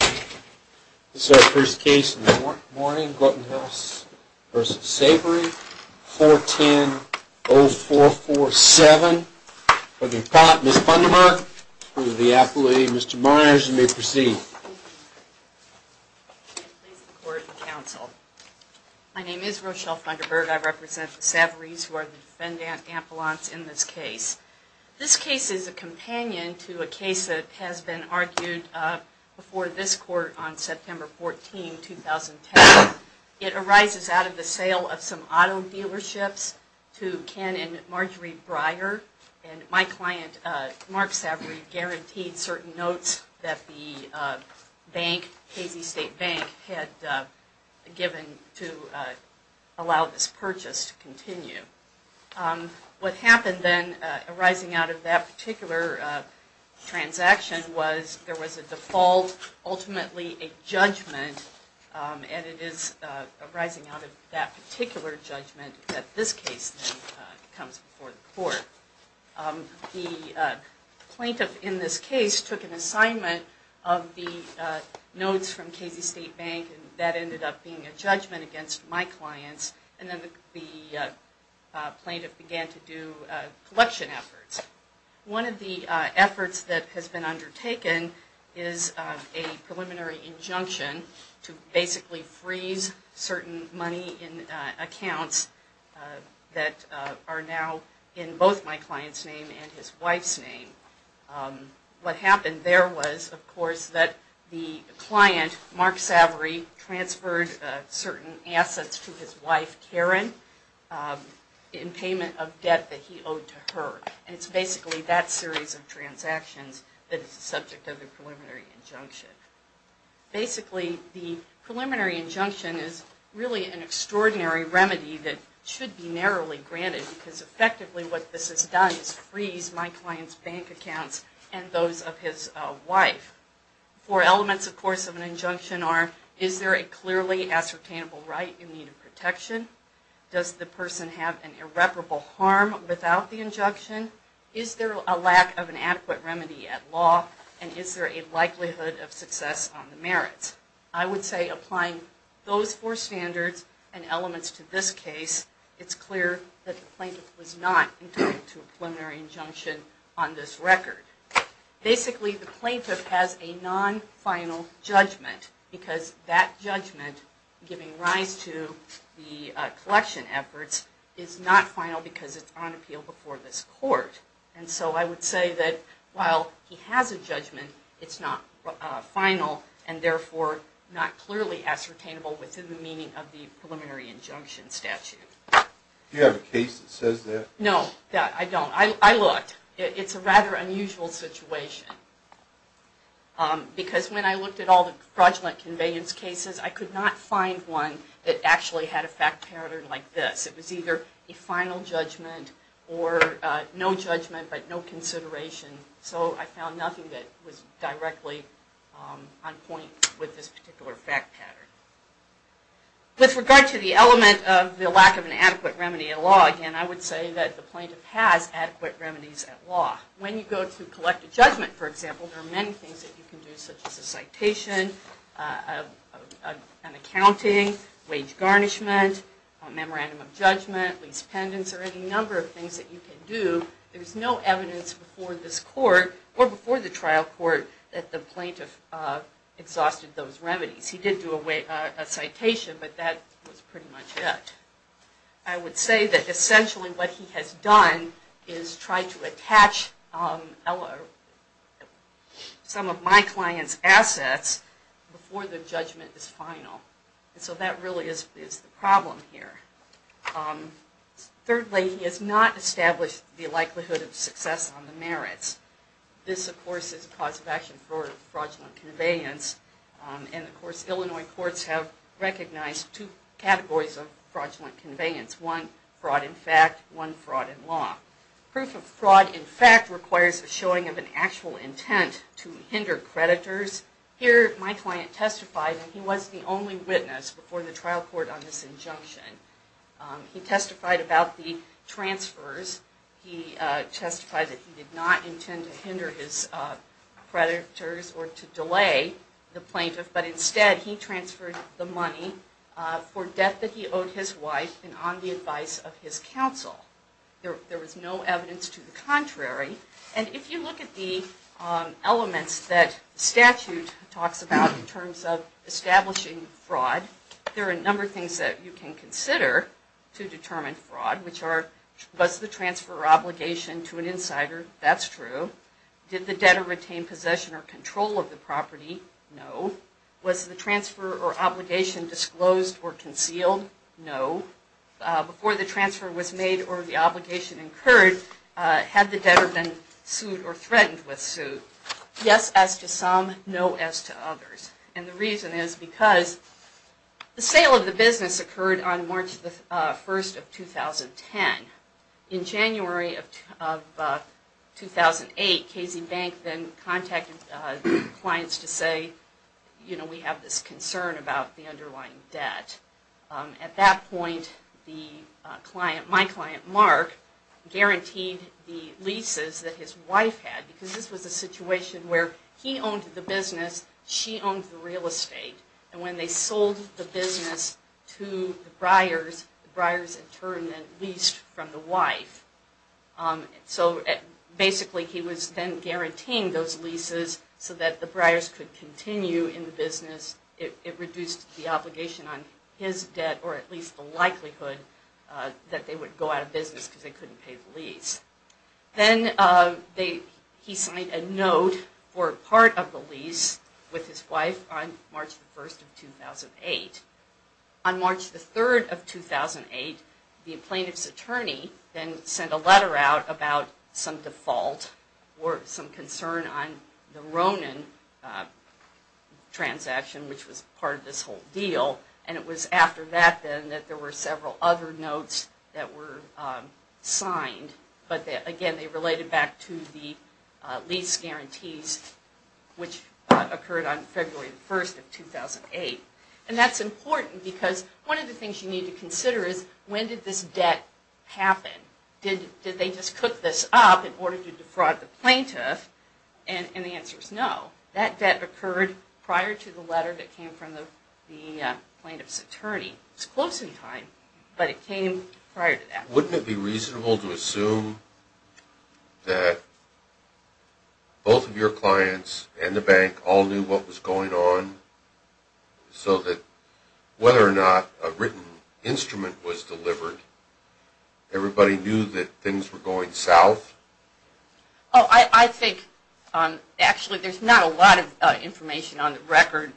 This is our first case in the morning, Grotenhuis v. Savoree, 410-0447. For the appellate, Ms. Funderburg. For the appellate, Mr. Myers, you may proceed. Rochelle Funderburg My name is Rochelle Funderburg. I represent the Savorees who are the defendant appellants in this case. This case is a companion to a case that has been argued before this court on September 14, 2010. It arises out of the sale of some auto dealerships to Ken and Marjorie Breyer. And my client, Mark Savoree, guaranteed certain notes that the bank, Casey State Bank, had given to allow this purchase to continue. What happened then, arising out of that particular transaction, was there was a default, ultimately a judgment, and it is arising out of that particular judgment that this case comes before the court. The plaintiff in this case took an assignment of the notes from Casey State Bank and that ended up being a judgment against my clients. And then the plaintiff began to do collection efforts. One of the efforts that has been undertaken is a preliminary injunction to basically freeze certain money in accounts that are now in both my client's name and his wife's name. What happened there was, of course, that the client, Mark Savoree, transferred certain assets to his wife, Karen, in payment of debt that he owed to her. And it's basically that series of transactions that is the subject of the preliminary injunction. Basically, the preliminary injunction is really an extraordinary remedy that should be narrowly granted because effectively what this has done is freeze my client's bank accounts and those of his wife. Four elements, of course, of an injunction are, is there a clearly ascertainable right in need of protection? Does the person have an irreparable harm without the injunction? Is there a lack of an adequate remedy at law? And is there a likelihood of success on the merits? I would say applying those four standards and elements to this case, it's clear that the plaintiff was not entitled to a preliminary injunction on this record. Basically, the plaintiff has a non-final judgment because that judgment, giving rise to the collection efforts, is not final because it's on appeal before this court. And so I would say that while he has a judgment, it's not final and therefore not clearly ascertainable within the meaning of the preliminary injunction statute. Do you have a case that says that? Again, I would say that the plaintiff has adequate remedies at law. When you go to collect a judgment, for example, there are many things that you can do such as a citation, an accounting, wage garnishment, a memorandum of judgment, lease pendants, or any number of things that you can do. There's no evidence before this court or before the trial court that the plaintiff exhausted those remedies. He did do a citation, but that was pretty much it. I would say that essentially what he has done is try to attach some of my client's assets before the judgment is final. So that really is the problem here. Thirdly, he has not established the likelihood of success on the merits. This, of course, is a cause of action for fraudulent conveyance. And of course, Illinois courts have recognized two categories of fraudulent conveyance. One fraud in fact, one fraud in law. Proof of fraud in fact requires a showing of an actual intent to hinder creditors. Here, my client testified, and he was the only witness before the trial court on this injunction. He testified about the transfers. He testified that he did not intend to hinder his creditors or to delay the plaintiff, but instead he transferred the money for debt that he owed his wife and on the advice of his counsel. There was no evidence to the contrary. And if you look at the elements that statute talks about in terms of establishing fraud, there are a number of things that you can consider to determine fraud, which are, was the transfer obligation to an insider? That's true. Did the debtor retain possession or control of the property? No. Was the transfer or obligation disclosed or concealed? No. Before the transfer was made or the obligation incurred, had the debtor been sued or threatened with suit? Yes, as to some. No, as to others. And the reason is because the sale of the business occurred on March the 1st of 2010. In January of 2008, Casey Bank then contacted clients to say, you know, we have this concern about the underlying debt. At that point, the client, my client Mark, guaranteed the leases that his wife had because this was a situation where he owned the business, she owned the real estate. And when they sold the business to the Breyers, the Breyers in turn then leased from the wife. So basically he was then guaranteeing those leases so that the Breyers could continue in the business. It reduced the obligation on his debt or at least the likelihood that they would go out of business because they couldn't pay the lease. Then he signed a note for part of the lease with his wife on March the 1st of 2008. On March the 3rd of 2008, the plaintiff's attorney then sent a letter out about some default or some concern on the Ronin transaction, which was part of this whole deal. And it was after that then that there were several other notes that were signed. But again, they related back to the lease guarantees, which occurred on February the 1st of 2008. And that's important because one of the things you need to consider is when did this debt happen? Did they just cook this up in order to defraud the plaintiff? And the answer is no. That debt occurred prior to the letter that came from the plaintiff's attorney. It's close in time, but it came prior to that. Wouldn't it be reasonable to assume that both of your clients and the bank all knew what was going on so that whether or not a written instrument was delivered, everybody knew that things were going south? Oh, I think actually there's not a lot of information on the record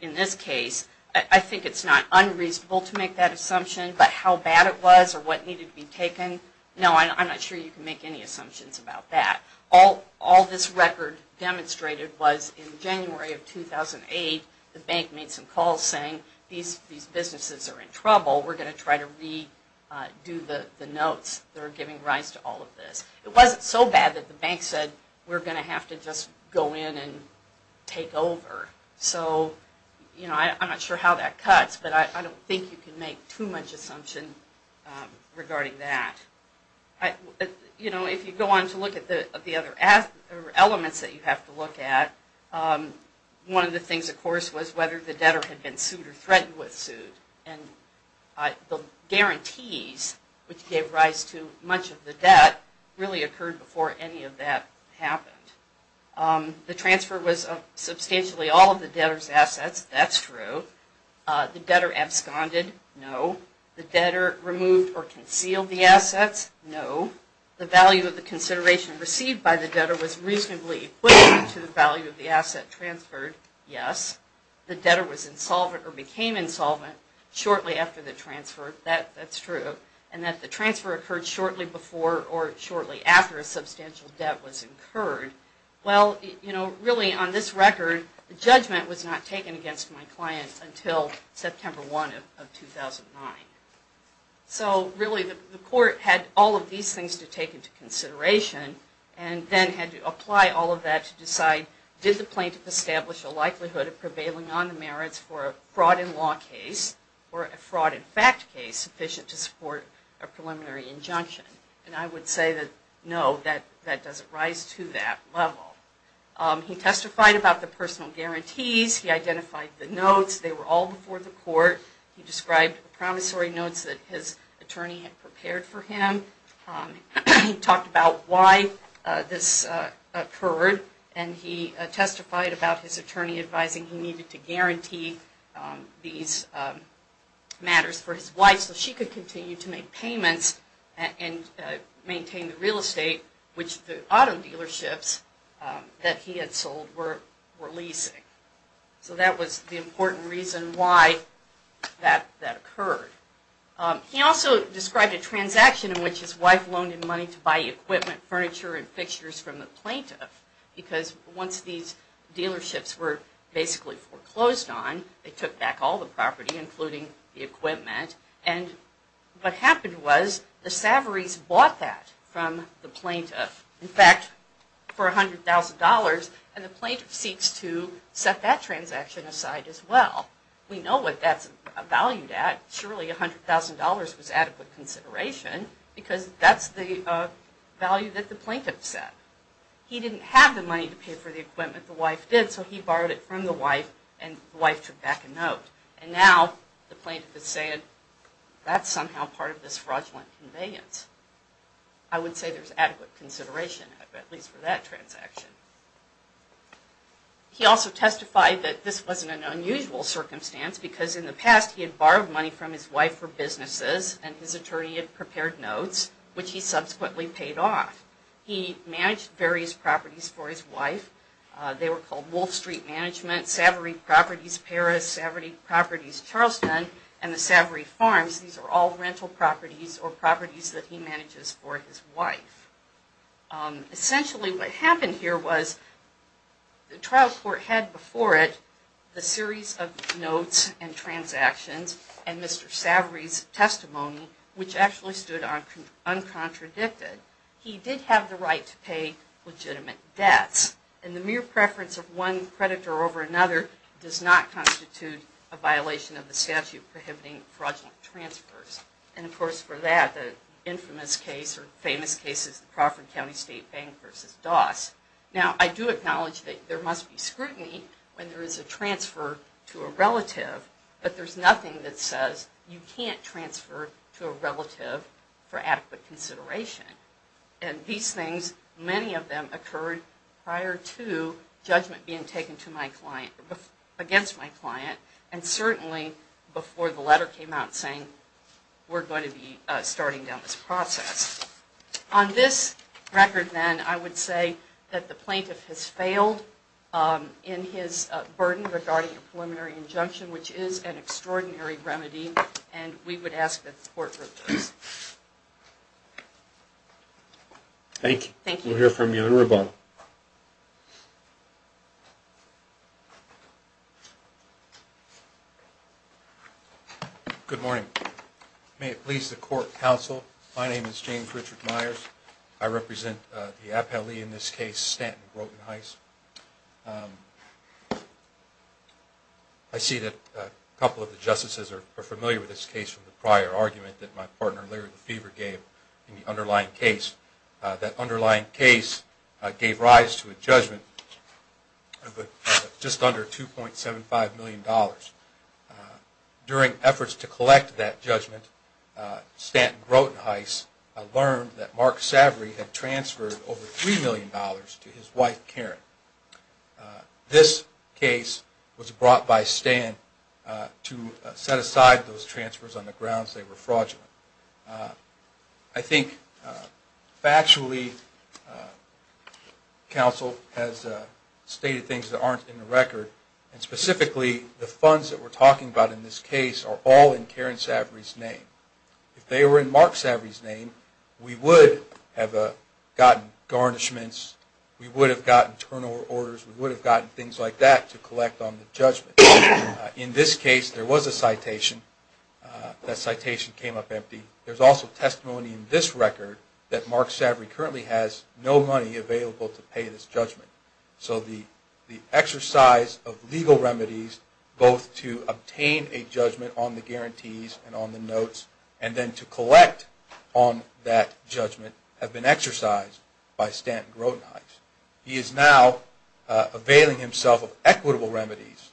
in this case. I think it's not unreasonable to make that assumption. But how bad it was or what needed to be taken, no, I'm not sure you can make any assumptions about that. All this record demonstrated was in January of 2008, the bank made some calls saying these businesses are in trouble. We're going to try to redo the notes that are giving rise to all of this. It wasn't so bad that the bank said we're going to have to just go in and take over. So I'm not sure how that cuts, but I don't think you can make too much assumption regarding that. If you go on to look at the other elements that you have to look at, one of the things, of course, was whether the debtor had been sued or threatened with suit. The guarantees which gave rise to much of the debt really occurred before any of that happened. The transfer was substantially all of the debtor's assets, that's true. The debtor absconded, no. The debtor removed or concealed the assets, no. The value of the consideration received by the debtor was reasonably equivalent to the value of the asset transferred, yes. The debtor was insolvent or became insolvent shortly after the transfer, that's true. And that the transfer occurred shortly before or shortly after a substantial debt was incurred. Well, you know, really on this record, the judgment was not taken against my client until September 1 of 2009. So really the court had all of these things to take into consideration and then had to apply all of that to decide did the plaintiff establish a likelihood of prevailing on the merits for a fraud in law case or a fraud in fact case sufficient to support his claim? Or a preliminary injunction? And I would say that, no, that doesn't rise to that level. He testified about the personal guarantees. He identified the notes. They were all before the court. He described the promissory notes that his attorney had prepared for him. He talked about why this occurred and he testified about his attorney advising he needed to guarantee these matters for his wife so she could continue to make the payments. And maintain the real estate which the auto dealerships that he had sold were leasing. So that was the important reason why that occurred. He also described a transaction in which his wife loaned him money to buy equipment, furniture, and fixtures from the plaintiff because once these dealerships were basically foreclosed on, they took back all the property including the equipment. And what happened was the savories bought that from the plaintiff. In fact, for $100,000 and the plaintiff seeks to set that transaction aside as well. We know what that's valued at. Surely $100,000 was adequate consideration because that's the value that the plaintiff set. He didn't have the money to pay for the equipment, the wife did, so he borrowed it from the wife and the wife took back a note. And now the plaintiff is saying that's somehow part of this fraudulent conveyance. I would say there's adequate consideration, at least for that transaction. He also testified that this wasn't an unusual circumstance because in the past he had borrowed money from his wife for businesses and his attorney had prepared notes which he subsequently paid off. He managed various properties for his wife. They were called Wolf Street Management, Savory Properties Paris, Savory Properties Charleston, and the Savory Farms. These are all rental properties or properties that he manages for his wife. Essentially what happened here was the trial court had before it a series of notes and transactions and Mr. Savory's testimony which actually stood uncontradicted. He did have the right to pay legitimate debts and the mere preference of one predator over another does not constitute a violation of the statute prohibiting fraudulent transfers. And of course for that the infamous case or famous case is the Crawford County State Bank v. Doss. Now I do acknowledge that there must be scrutiny when there is a transfer to a relative, but there's nothing that says you can't transfer to a relative for adequate consideration. And these things, many of them occurred prior to judgment being taken against my client and certainly before the letter came out saying we're going to be starting down this process. On this record then I would say that the plaintiff has failed in his burden regarding a preliminary injunction which is an extraordinary remedy and we would ask that the court approve this. Thank you. We'll hear from you in a moment. Good morning. May it please the court counsel, my name is James Richard Myers. I represent the appellee in this case, Stanton Brogan-Heiss. I see that a couple of the justices are familiar with this case from the prior argument that my partner Larry Lefevre gave in the underlying case. That underlying case gave rise to a judgment of just under $2.75 million. During efforts to collect that judgment, Stanton Brogan-Heiss learned that Mark Savory had transferred over $3 million to his wife Karen. This case was brought by Stanton Brogan-Heiss to set aside those transfers on the grounds they were fraudulent. I think factually counsel has stated things that aren't in the record and specifically the funds that we're talking about in this case are all in Karen Savory's name. If they were in Mark Savory's name we would have gotten garnishments, we would have gotten internal orders, we would have gotten things like that to collect on the judgment. In this case there was a citation, that citation came up empty. There's also testimony in this record that Mark Savory currently has no money available to pay this judgment. So the exercise of legal remedies both to obtain a judgment on the guarantees and on the notes and then to collect on that judgment have been exercised by Stanton Brogan-Heiss. He is now availing himself of equitable remedies.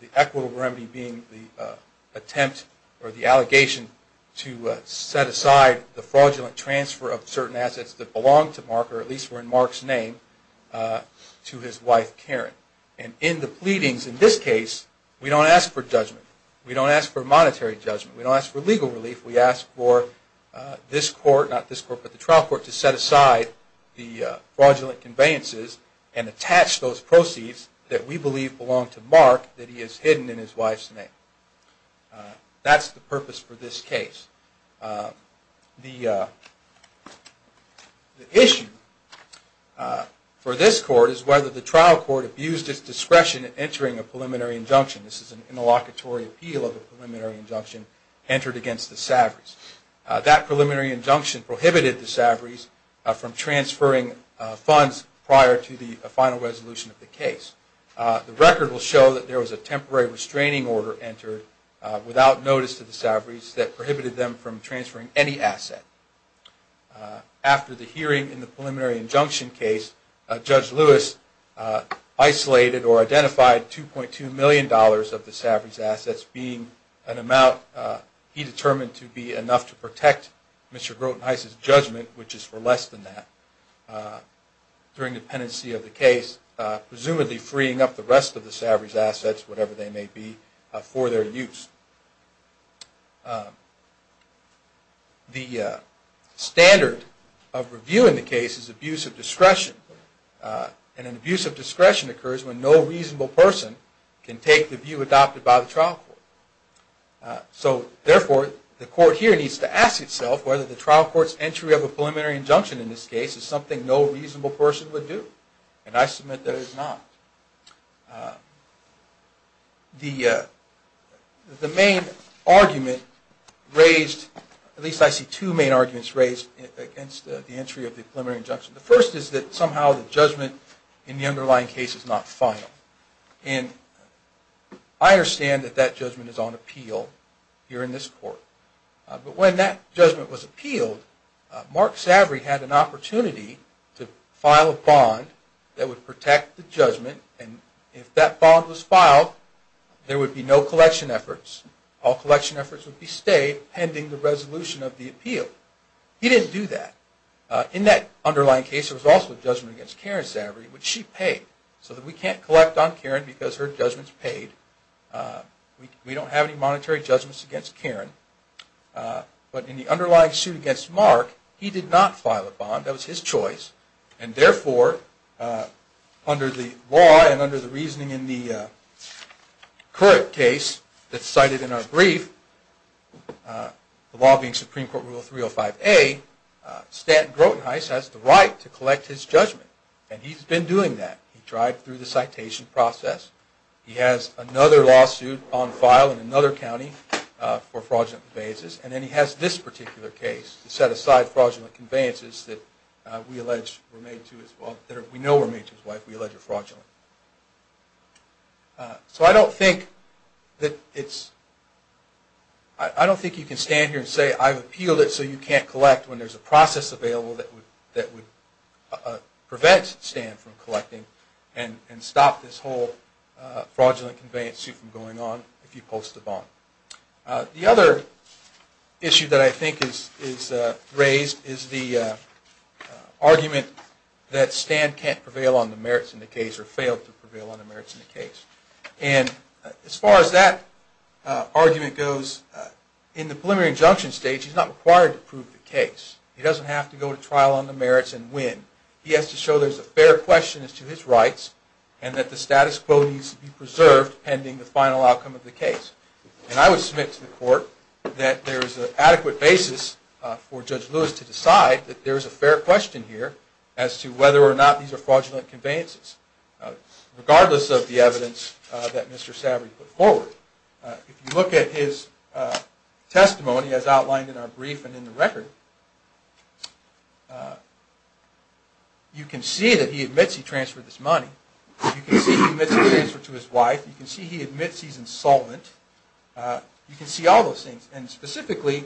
The equitable remedy being the attempt or the allegation to set aside the fraudulent transfer of certain assets that belong to Mark or at least were in Mark's name to his wife Karen. And in the pleadings in this case we don't ask for judgment. We don't ask for monetary judgment. We don't ask for legal relief. We ask for this court, not this court, but the trial court to set aside the fraudulent conveyances and attach those proceeds that we believe belong to Mark that he has hidden in his wife's name. That's the purpose for this case. The issue for this court is whether the trial court abused its discretion in entering a preliminary injunction. This is an interlocutory appeal of a preliminary injunction entered against the Savory's. That preliminary injunction prohibited the Savory's from transferring funds prior to the final resolution of the case. The record will show that there was a temporary restraining order entered without notice to the Savory's that prohibited them from transferring any asset. After the hearing in the preliminary injunction case, Judge Lewis isolated or identified $2.2 million of the Savory's assets being an amount he determined to be enough to protect Mr. Groten-Heiss's judgment, which is for less than that, during the pendency of the case. The standard of review in the case is abuse of discretion. And an abuse of discretion occurs when no reasonable person can take the view adopted by the trial court. Therefore, the court here needs to ask itself whether the trial court's entry of a preliminary injunction in this case is something no reasonable person would do. And I submit that it is not. The main argument raised, at least I see two main arguments raised against the entry of the preliminary injunction. The first is that somehow the judgment in the underlying case is not final. And I understand that that judgment is on appeal here in this court. But when that judgment was appealed, Mark Savory had an opportunity to file a bond that would protect the judgment. And if that bond was filed, there would be no collection efforts. All collection efforts would be stayed pending the resolution of the appeal. He didn't do that. In that underlying case, there was also a judgment against Karen Savory, which she paid. So we can't collect on Karen because her judgment is paid. We don't have any monetary judgments against Karen. But in the underlying suit against Mark, he did not file a bond. That was his choice. And therefore, under the law and under the reasoning in the current case that's cited in our brief, the law being Supreme Court Rule 305A, Stanton Grotenheiss has the right to collect his judgment. And he's been doing that. He tried through the citation process. He has another lawsuit on file in another county for fraudulent conveyances. And then he has this particular case to set aside fraudulent conveyances that we know were made to his wife. We allege are fraudulent. So I don't think you can stand here and say I appealed it so you can't collect when there's a process available that would prevent Stan from collecting and stop this whole fraudulent conveyance suit from going on if you post a bond. The other issue that I think is raised is the argument that Stan can't prevail on the merits in the case or failed to prevail on the merits in the case. And as far as that argument goes, in the preliminary injunction stage, he's not required to prove the case. He doesn't have to go to trial on the merits and win. He has to show there's a fair question as to his rights and that the status quo needs to be preserved pending the final outcome of the case. And I would submit to the court that there is an adequate basis for Judge Lewis to decide that there is a fair question here as to whether or not these are fraudulent conveyances, regardless of the evidence that Mr. Savory put forward. If you look at his testimony as outlined in our brief and in the record, you can see that he admits he transferred this money. You can see he admits he transferred to his wife. You can see he admits he's insolvent. You can see all those things. And specifically,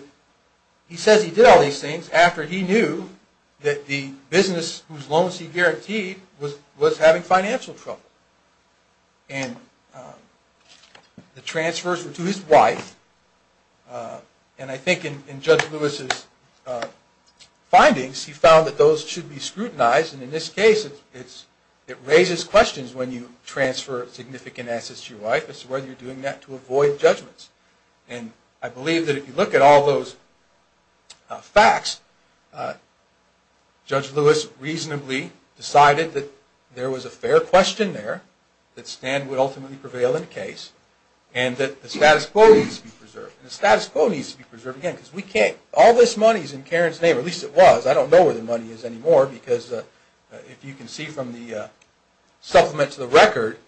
he says he did all these things after he knew that the business whose loans he guaranteed was having financial trouble. And the transfers were to his wife. And I think in Judge Lewis's findings, he found that those should be scrutinized. And in this case, it raises questions when you transfer significant assets to your wife as to whether you're doing that to avoid judgments. And I believe that if you look at all those facts, Judge Lewis reasonably decided that there was a fair question there, that Stan would ultimately prevail in the case, and that the status quo needs to be preserved. And the status quo needs to be preserved, again, because all this money is in Karen's name, or at least it was. I don't know where the money is anymore, because if you can see from the supplement to the record,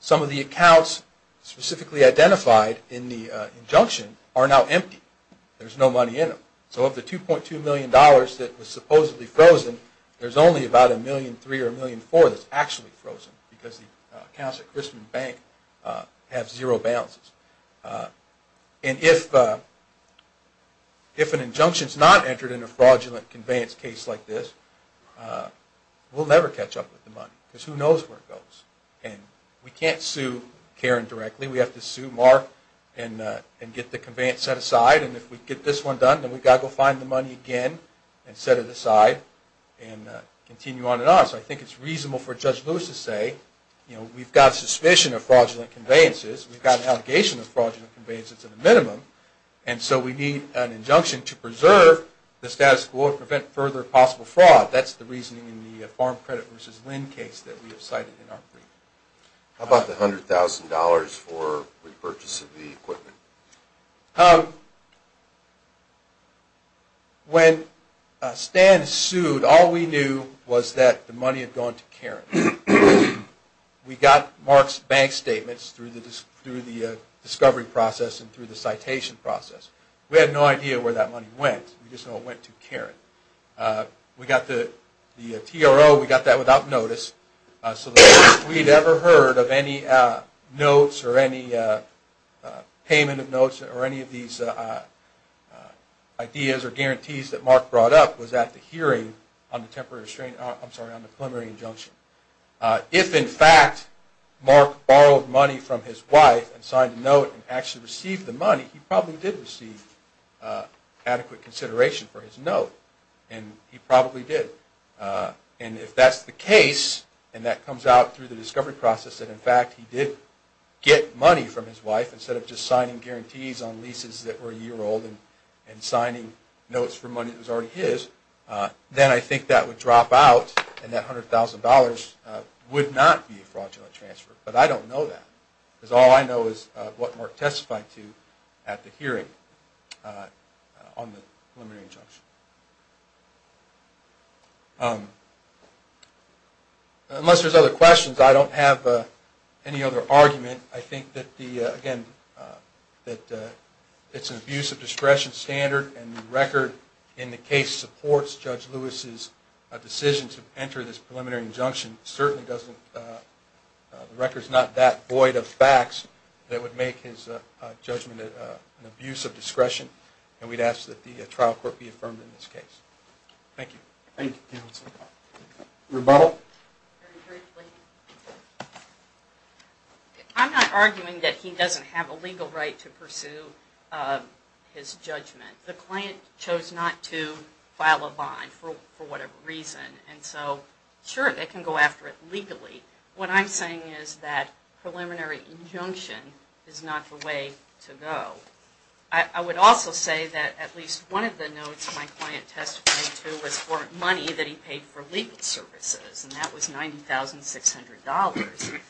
some of the accounts specifically identified in the injunction are now empty. There's no money in them. So of the $2.2 million that was supposedly frozen, there's only about $1.3 million or $1.4 million that's actually frozen, because the accounts at Grissom Bank have zero balances. And if an injunction is not entered in a fraudulent conveyance case like this, we'll never catch up with the money, because who knows where it goes. And we can't sue Karen directly. We have to sue Mark and get the conveyance set aside. And if we get this one done, then we've got to go find the money again and set it aside and continue on and on. So I think it's reasonable for Judge Lewis to say, you know, we've got suspicion of fraudulent conveyances. We've got an allegation of fraudulent conveyances at a minimum. And so we need an injunction to preserve the status quo and prevent further possible fraud. That's the reasoning in the farm credit versus LEND case that we have cited in our brief. How about the $100,000 for repurchase of the equipment? If, in fact, Mark borrowed money from his wife and signed a note and actually received the money, he probably did receive adequate consideration for his note. And he probably did. And if that's the case, and that comes out through the discovery process that, in fact, he did get money from his wife instead of just signing guarantees on leases that were a year old and signing notes for money that was already his, then I think that would drop out and that $100,000 would not be a fraudulent transfer. But I don't know that, because all I know is what Mark testified to at the hearing on the preliminary injunction. Unless there's other questions, I don't have any other argument. I think that, again, it's an abuse of discretion standard, and the record in the case supports Judge Lewis's decision to enter this preliminary injunction. The record's not that void of facts that would make his judgment an abuse of discretion, and we'd ask that the trial court be affirmed in this case. Thank you. Rebuttal? Very briefly. I'm not arguing that he doesn't have a legal right to pursue his judgment. The client chose not to file a bond for whatever reason. And so, sure, they can go after it legally. What I'm saying is that preliminary injunction is not the way to go. I would also say that at least one of the notes my client testified to was for money that he paid for legal services, and that was $90,600.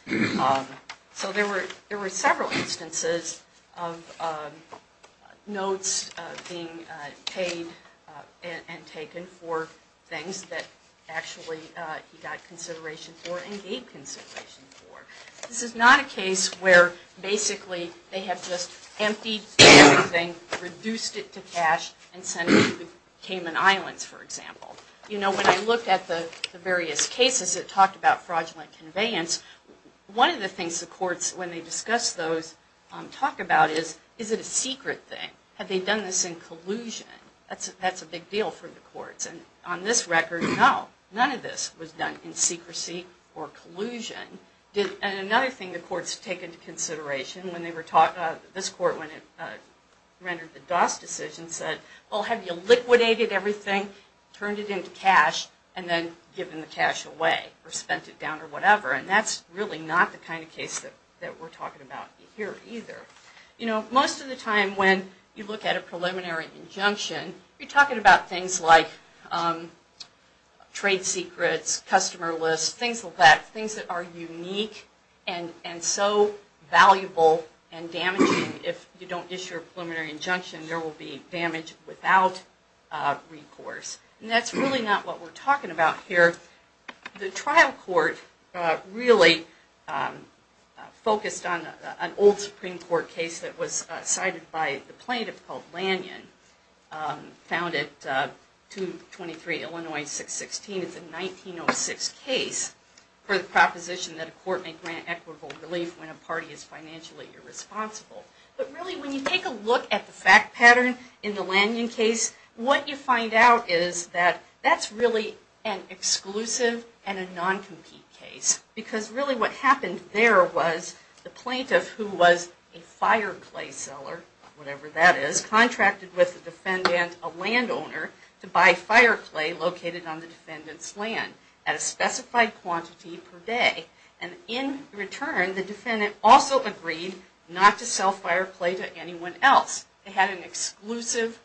So there were several instances of notes being paid and taken for things that actually he got consideration for and gave consideration for. This is not a case where basically they have just emptied everything, reduced it to cash, and sent it to Cayman Islands, for example. You know, when I looked at the various cases that talked about fraudulent conveyance, one of the things the courts, when they discuss those, talk about is, is it a secret thing? Have they done this in collusion? That's a big deal for the courts. And on this record, no. None of this was done in secrecy or collusion. And another thing the courts take into consideration when they were talking, this court when it rendered the DOS decision said, well, have you liquidated everything, turned it into cash, and then given the cash away or spent it down or whatever? And that's really not the kind of case that we're talking about here either. You know, most of the time when you look at a preliminary injunction, you're talking about things like trade secrets, customer lists, things like that. Things that are unique and so valuable and damaging if you don't issue a preliminary injunction, there will be damage without recourse. And that's really not what we're talking about here. The trial court really focused on an old Supreme Court case that was cited by the plaintiff called Lanyon, found at 223 Illinois 616. It's a 1906 case for the proposition that a court may grant equitable relief when a party is financially irresponsible. But really when you take a look at the fact pattern in the Lanyon case, what you find out is that that's really an exclusive and a non-compete case. Because really what happened there was the plaintiff, who was a fireclay seller, whatever that is, contracted with the defendant, a landowner, to buy fireclay located on the defendant's land at a specified quantity per day. And in return, the defendant also agreed not to sell fireclay to anyone else. They had an exclusive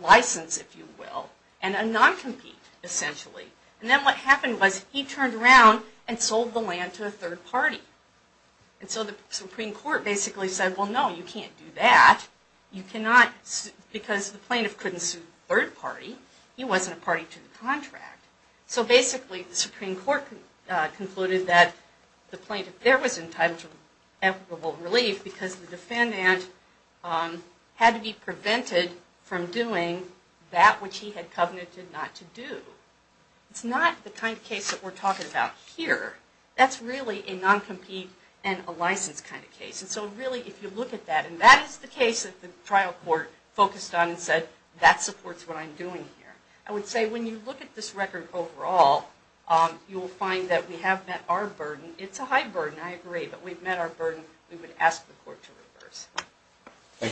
license, if you will, and a non-compete, essentially. And then what happened was he turned around and sold the land to a third party. And so the Supreme Court basically said, well no, you can't do that. You cannot, because the plaintiff couldn't sue a third party. He wasn't a party to the contract. So basically the Supreme Court concluded that the plaintiff there was entitled to equitable relief because the defendant had to be prevented from doing that which he had covenanted not to do. It's not the kind of case that we're talking about here. That's really a non-compete and a license kind of case. And so really if you look at that, and that is the case that the trial court focused on and said, that supports what I'm doing here. I would say when you look at this record overall, you'll find that we have met our burden. It's a high burden, I agree, but we've met our burden. We would ask the court to reverse.